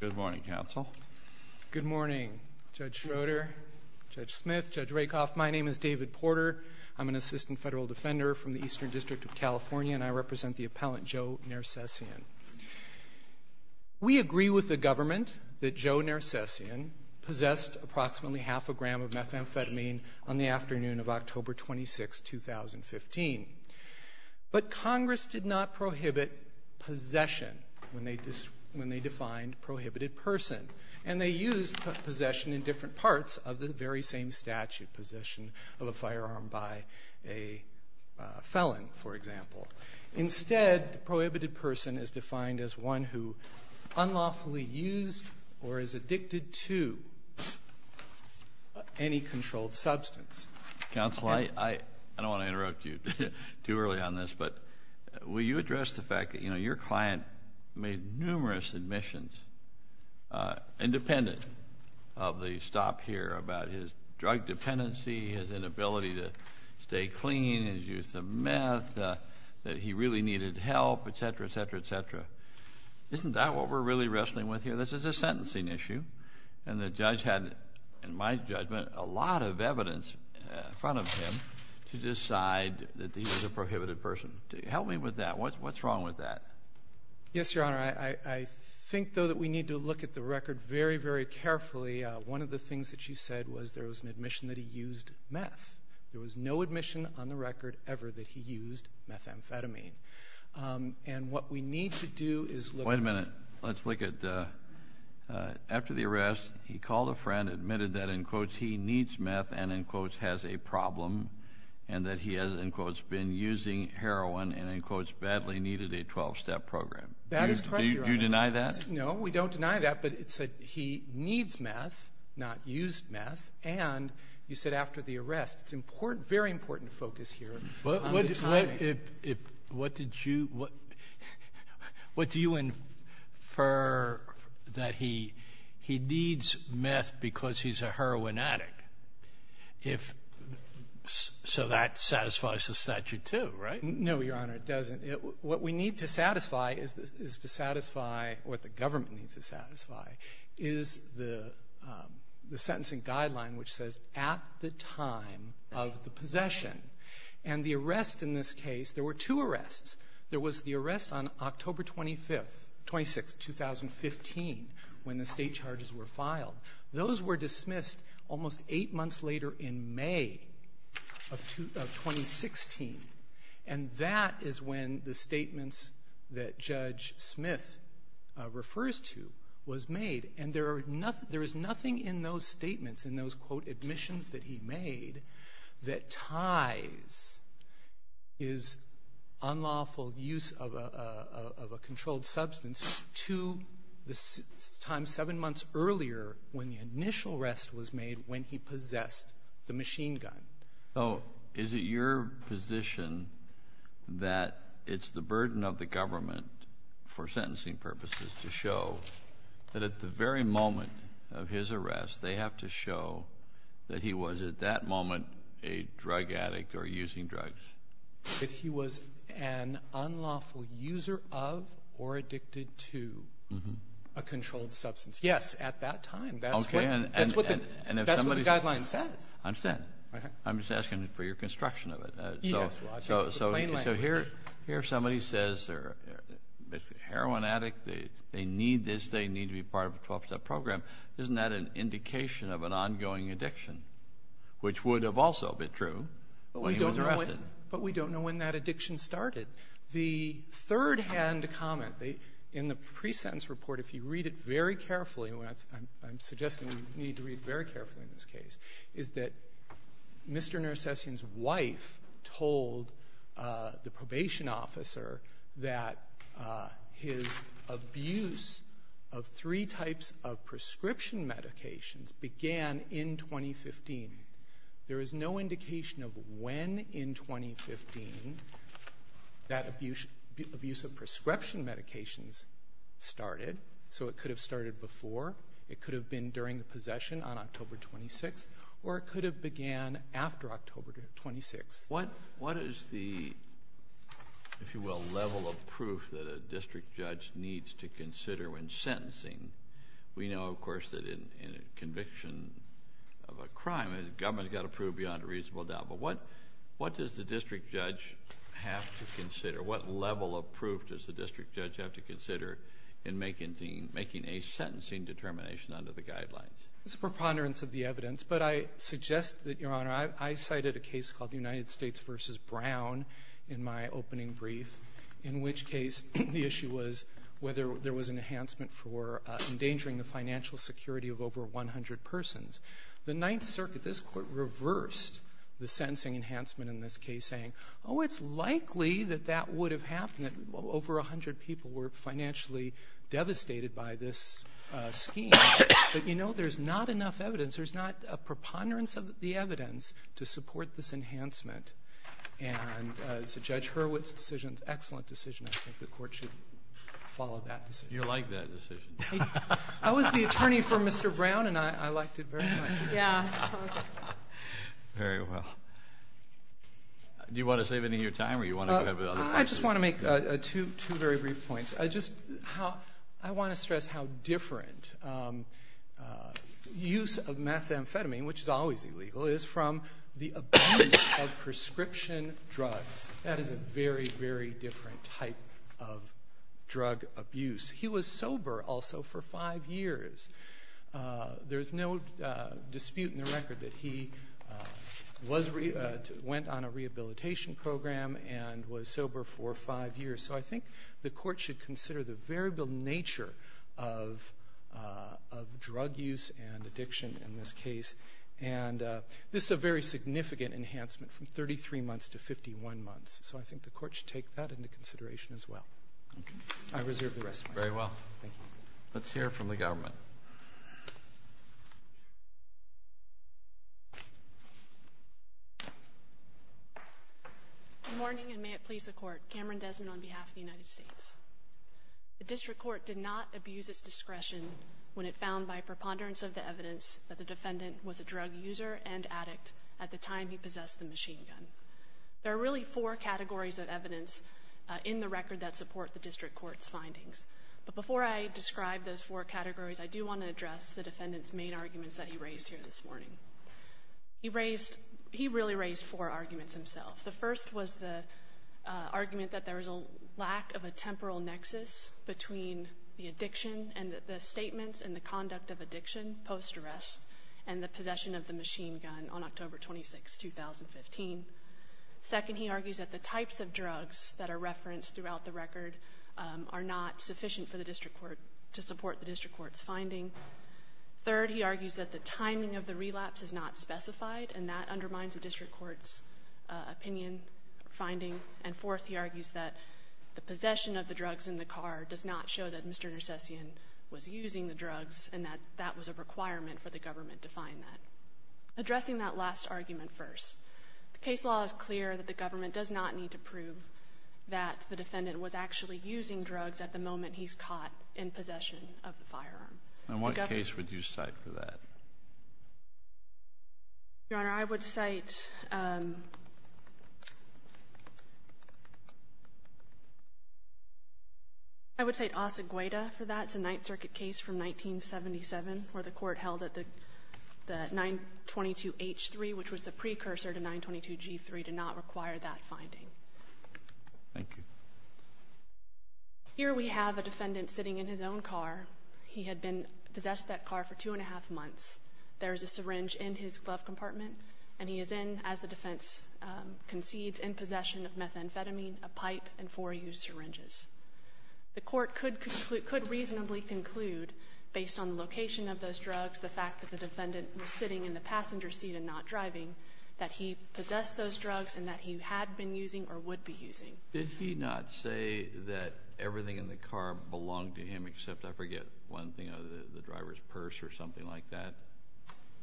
Good morning, Counsel. Good morning, Judge Schroeder, Judge Smith, Judge Rakoff. My name is David Porter. I'm an assistant federal defender from the Eastern District of California, and I represent the appellant Joe Nersesyan. We agree with the government that Joe Nersesyan possessed approximately half a gram of methamphetamine on the afternoon of October 26, 2015. But Congress did not prohibit possession when they defined prohibited person. And they used possession in different parts of the very same statute, possession of a firearm by a felon, for example. Instead, the prohibited person is defined as one who unlawfully used or is addicted to any controlled substance. Counsel, I don't want to interrupt you too early on this, but will you address the fact that, you know, your client made numerous admissions independent of the stop here about his drug dependency, his inability to stay clean, his use of meth, that he really needed help, et cetera, et cetera, et cetera. Isn't that what we're really wrestling with here? This is a sentencing issue. And the judge had, in my judgment, a lot of evidence in front of him to decide that he was a prohibited person. Help me with that. What's wrong with that? Yes, Your Honor. I think, though, that we need to look at the record very, very carefully. One of the things that you said was there was an admission that he used meth. There was no admission on the record ever that he used methamphetamine. And what we need to do is look at the record. Wait a minute. Let's look at after the arrest, he called a friend, admitted that, in quotes, he needs meth and, in quotes, has a problem, and that he has, in quotes, been using heroin and, in quotes, badly needed a 12-step program. That is correct, Your Honor. Do you deny that? No, we don't deny that. But it said he needs meth, not used meth. And you said after the arrest. It's very important to focus here on the timing. What did you – what do you infer that he needs meth because he's a heroin addict if – so that satisfies the statute, too, right? No, Your Honor, it doesn't. What we need to satisfy is to satisfy – what the government needs to satisfy is the sentencing guideline which says at the time of the possession. And the arrest in this case, there were two arrests. There was the arrest on October 25th – 26th, 2015, when the state charges were filed. Those were dismissed almost eight months later in May of 2016. And that is when the statements that Judge Smith refers to was made. And there is nothing in those statements, in those, quote, admissions that he made, that ties his unlawful use of a controlled substance to the time seven months earlier when the initial arrest was made when he possessed the machine gun. So is it your position that it's the burden of the government for sentencing purposes to show that at the very moment of his arrest, they have to show that he was at that moment a drug addict or using drugs? That he was an unlawful user of or addicted to a controlled substance. Yes, at that time. That's what the guideline says. I understand. I'm just asking for your construction of it. Yes, well, I think it's the plain language. So here somebody says they're a heroin addict, they need this, they need to be part of a 12-step program. Isn't that an indication of an ongoing addiction, which would have also been true when he was arrested? But we don't know when that addiction started. The third-hand comment in the pre-sentence report, if you read it very carefully, and I'm suggesting you need to read it very carefully in this case, is that Mr. Narcissian's wife told the probation officer that his abuse of three types of prescription medications began in 2015. There is no indication of when in 2015 that abuse of prescription medications started. So it could have started before. It could have been during the possession on October 26th. Or it could have began after October 26th. What is the, if you will, level of proof that a district judge needs to consider when sentencing? We know, of course, that in a conviction of a crime, the government has got to prove beyond a reasonable doubt. What level of proof does the district judge have to consider in making a sentencing determination under the guidelines? It's a preponderance of the evidence, but I suggest that, Your Honor, I cited a case called United States v. Brown in my opening brief, in which case the issue was whether there was an enhancement for endangering the financial security of over 100 persons. The Ninth Circuit, this Court reversed the sentencing enhancement in this case, saying, oh, it's likely that that would have happened, that over 100 people were financially devastated by this scheme. But, you know, there's not enough evidence. There's not a preponderance of the evidence to support this enhancement. And so Judge Hurwitz's decision is an excellent decision. I think the Court should follow that decision. You like that decision. I was the attorney for Mr. Brown, and I liked it very much. Yeah. Very well. Do you want to save any of your time, or do you want to go ahead with other questions? I just want to make two very brief points. I just want to stress how different use of methamphetamine, which is always illegal, is from the abuse of prescription drugs. That is a very, very different type of drug abuse. He was sober also for five years. There is no dispute in the record that he went on a rehabilitation program and was sober for five years. So I think the Court should consider the variable nature of drug use and addiction in this case. And this is a very significant enhancement from 33 months to 51 months. So I think the Court should take that into consideration as well. Okay. I reserve the rest of my time. Very well. Thank you. Let's hear from the government. Good morning, and may it please the Court. Cameron Desmond on behalf of the United States. The District Court did not abuse its discretion when it found by preponderance of the evidence that the defendant was a drug user and addict at the time he possessed the machine gun. There are really four categories of evidence in the record that support the District Court's findings. But before I describe those four categories, I do want to address the defendant's main arguments that he raised here this morning. He raised – he really raised four arguments himself. The first was the argument that there was a lack of a temporal nexus between the addiction and the statements and the conduct of addiction post-arrest and the possession of the machine gun on October 26, 2015. Second, he argues that the types of drugs that are referenced throughout the record are not sufficient for the District Court to support the District Court's finding. Third, he argues that the timing of the relapse is not specified, and that undermines the District Court's opinion or finding. And fourth, he argues that the possession of the drugs in the car does not show that Mr. Nersessian was using the drugs and that that was a requirement for the government to find that. Addressing that last argument first, the case law is clear that the government does not need to prove that the defendant was actually using drugs at the moment he's caught in possession of the firearm. And what case would you cite for that? Your Honor, I would cite – I would cite Asa Guida for that. That's a Ninth Circuit case from 1977 where the court held that the 922H3, which was the precursor to 922G3, did not require that finding. Thank you. Here we have a defendant sitting in his own car. He had been possessed of that car for two and a half months. There is a syringe in his glove compartment, and he is in, as the defense concedes, in possession of methamphetamine, a pipe, and four used syringes. The court could reasonably conclude, based on the location of those drugs, the fact that the defendant was sitting in the passenger seat and not driving, that he possessed those drugs and that he had been using or would be using. Did he not say that everything in the car belonged to him except, I forget, one thing, the driver's purse or something like that?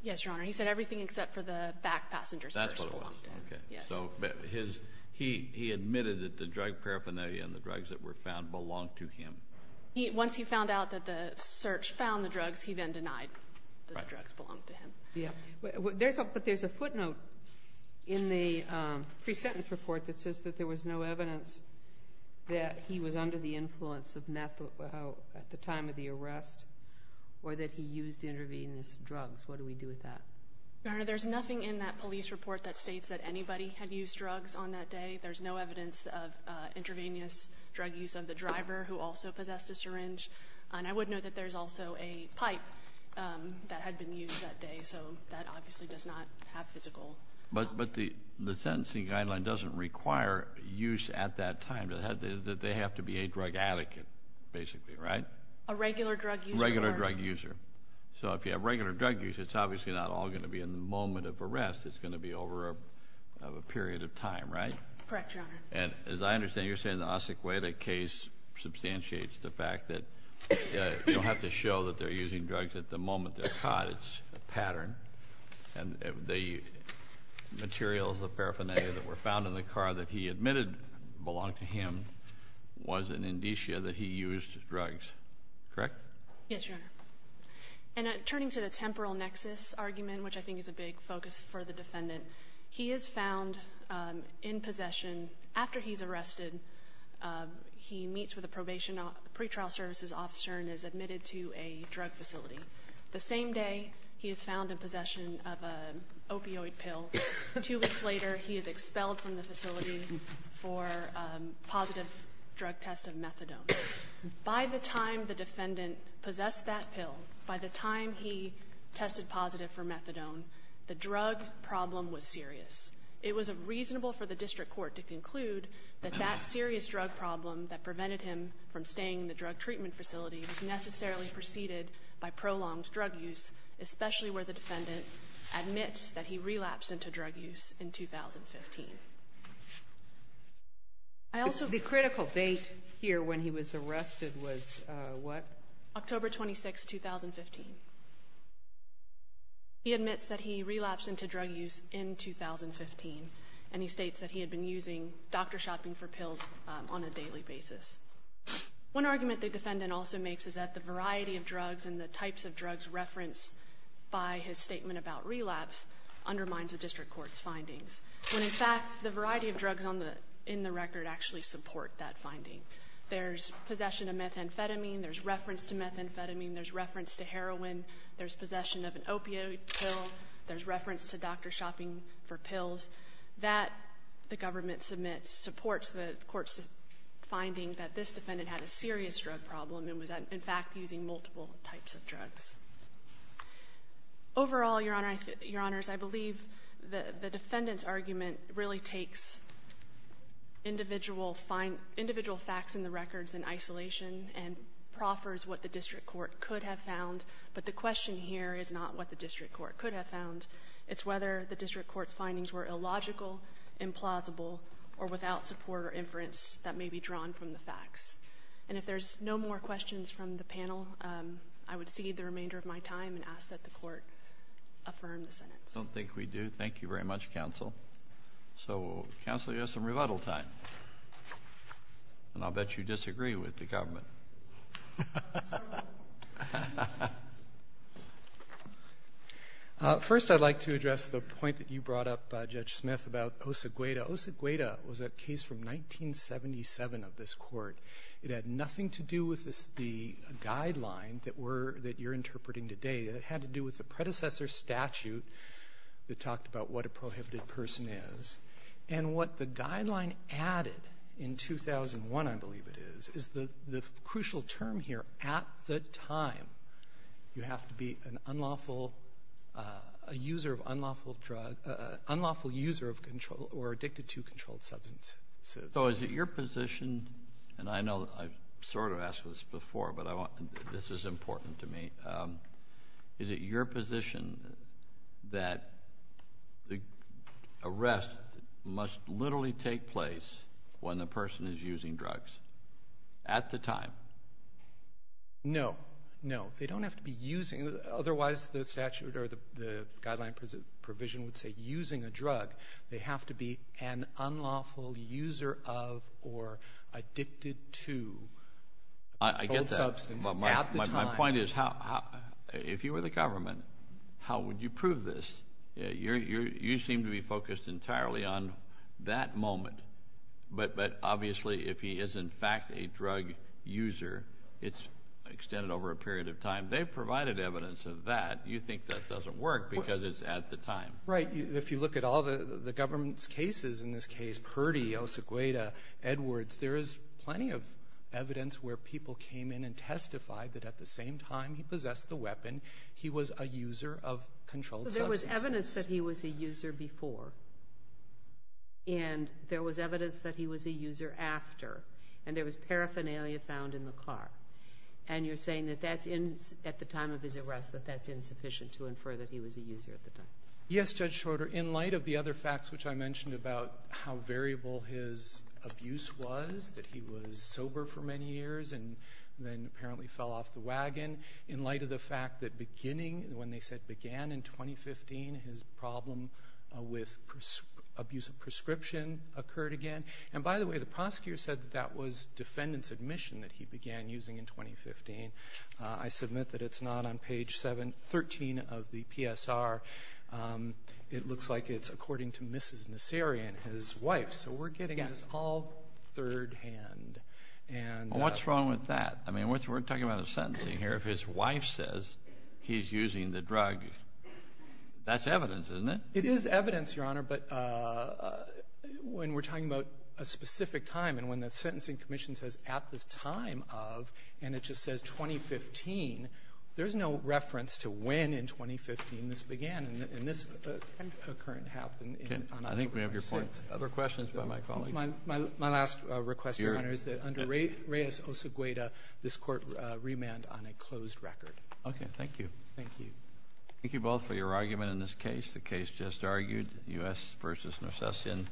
Yes, Your Honor. He said everything except for the back passenger's purse. That's what it was. Okay. Yes. So he admitted that the drug paraphernalia and the drugs that were found belonged to him. Once he found out that the search found the drugs, he then denied that the drugs belonged to him. Yes. But there's a footnote in the pre-sentence report that says that there was no evidence that he was under the influence of meth at the time of the arrest or that he used intravenous drugs. What do we do with that? Your Honor, there's nothing in that police report that states that anybody had used drugs on that day. There's no evidence of intravenous drug use of the driver who also possessed a syringe. And I would note that there's also a pipe that had been used that day. So that obviously does not have physical. But the sentencing guideline doesn't require use at that time. They have to be a drug advocate, basically, right? A regular drug user. A regular drug user. So if you have regular drug use, it's obviously not all going to be in the moment of arrest. It's going to be over a period of time, right? Correct, Your Honor. And as I understand, you're saying the Acequeda case substantiates the fact that you don't have to show that they're using drugs at the moment they're caught. It's a pattern. And the materials of paraphernalia that were found in the car that he admitted belonged to him was an indicia that he used drugs. Correct? Yes, Your Honor. And turning to the temporal nexus argument, which I think is a big focus for the defendant, he is found in possession after he's arrested. He meets with a probation pre-trial services officer and is admitted to a drug facility. The same day, he is found in possession of an opioid pill. Two weeks later, he is expelled from the facility for a positive drug test of methadone. By the time the defendant possessed that pill, by the time he tested positive for methadone, the drug problem was serious. It was reasonable for the district court to conclude that that serious drug problem that prevented him from staying in the drug treatment facility was necessarily preceded by prolonged drug use, especially where the defendant admits that he relapsed into drug use in 2015. I also ---- The critical date here when he was arrested was what? October 26, 2015. He admits that he relapsed into drug use in 2015, and he states that he had been using doctor shopping for pills on a daily basis. One argument the defendant also makes is that the variety of drugs and the types of drugs referenced by his statement about relapse undermines the district court's findings, when, in fact, the variety of drugs in the record actually support that finding. There's possession of methamphetamine. There's reference to methamphetamine. There's reference to heroin. There's possession of an opioid pill. There's reference to doctor shopping for pills. That, the government submits, supports the court's finding that this defendant had a serious drug problem and was, in fact, using multiple types of drugs. Overall, Your Honor, Your Honors, I believe the defendant's argument really takes individual facts in the records in isolation and proffers what the district court could have found, but the question here is not what the district court could have found. It's whether the district court's findings were illogical, implausible, or without support or inference that may be drawn from the facts. And if there's no more questions from the panel, I would cede the remainder of my time and ask that the court affirm the sentence. I don't think we do. Thank you very much, counsel. So, counsel, you have some rebuttal time, and I'll bet you disagree with the government. First, I'd like to address the point that you brought up, Judge Smith, about Osegueda. Osegueda was a case from 1977 of this Court. It had nothing to do with the guideline that we're – that you're interpreting today. It had to do with the predecessor statute that talked about what a prohibited person is. And what the guideline added in 2001, I believe it is, is the crucial term here, at the time, you have to be an unlawful – a user of unlawful drug – unlawful user of or addicted to controlled substances. So is it your position – and I know I've sort of asked this before, but this is important to me – is it your position that the arrest must literally take place when the person is using drugs at the time? No. No. They don't have to be using – otherwise the statute or the guideline provision would say using a drug. They have to be an unlawful user of or addicted to controlled substance at the time. I get that. But my point is, if you were the government, how would you prove this? You seem to be focused entirely on that moment. But obviously, if he is in fact a drug user, it's extended over a period of time. They've provided evidence of that. You think that doesn't work because it's at the time. Right. If you look at all the government's cases in this case, Purdy, Osegueda, Edwards, there is plenty of evidence where people came in and testified that at the same time he possessed the weapon, he was a user of controlled substances. There was evidence that he was a user before. And there was evidence that he was a user after. And there was paraphernalia found in the car. And you're saying that that's at the time of his arrest, that that's insufficient to infer that he was a user at the time. Yes, Judge Shorter. In light of the other facts which I mentioned about how variable his abuse was, that he was sober for many years and then apparently fell off the wagon, in light of the fact that beginning, when they said began in 2015, his problem with abuse of prescription occurred again. And by the way, the prosecutor said that that was defendant's admission that he began using in 2015. I submit that it's not on page 713 of the PSR. It looks like it's according to Mrs. Nasseri and his wife. So we're getting this all thirdhand. And the ---- Well, what's wrong with that? I mean, we're talking about a sentencing here. If his wife says he's using the drug, that's evidence, isn't it? It is evidence, Your Honor. But when we're talking about a specific time and when the sentencing commission says at this time of, and it just says 2015, there's no reference to when in 2015 this began. And this occurrence happened on October 6th. Okay. I think we have your point. Other questions by my colleague? My last request, Your Honor, is that under Reyes-Osagueda, this Court remand on a closed record. Okay. Thank you. Thank you. Thank you both for your argument in this case. The case just argued, U.S. versus Norcestian.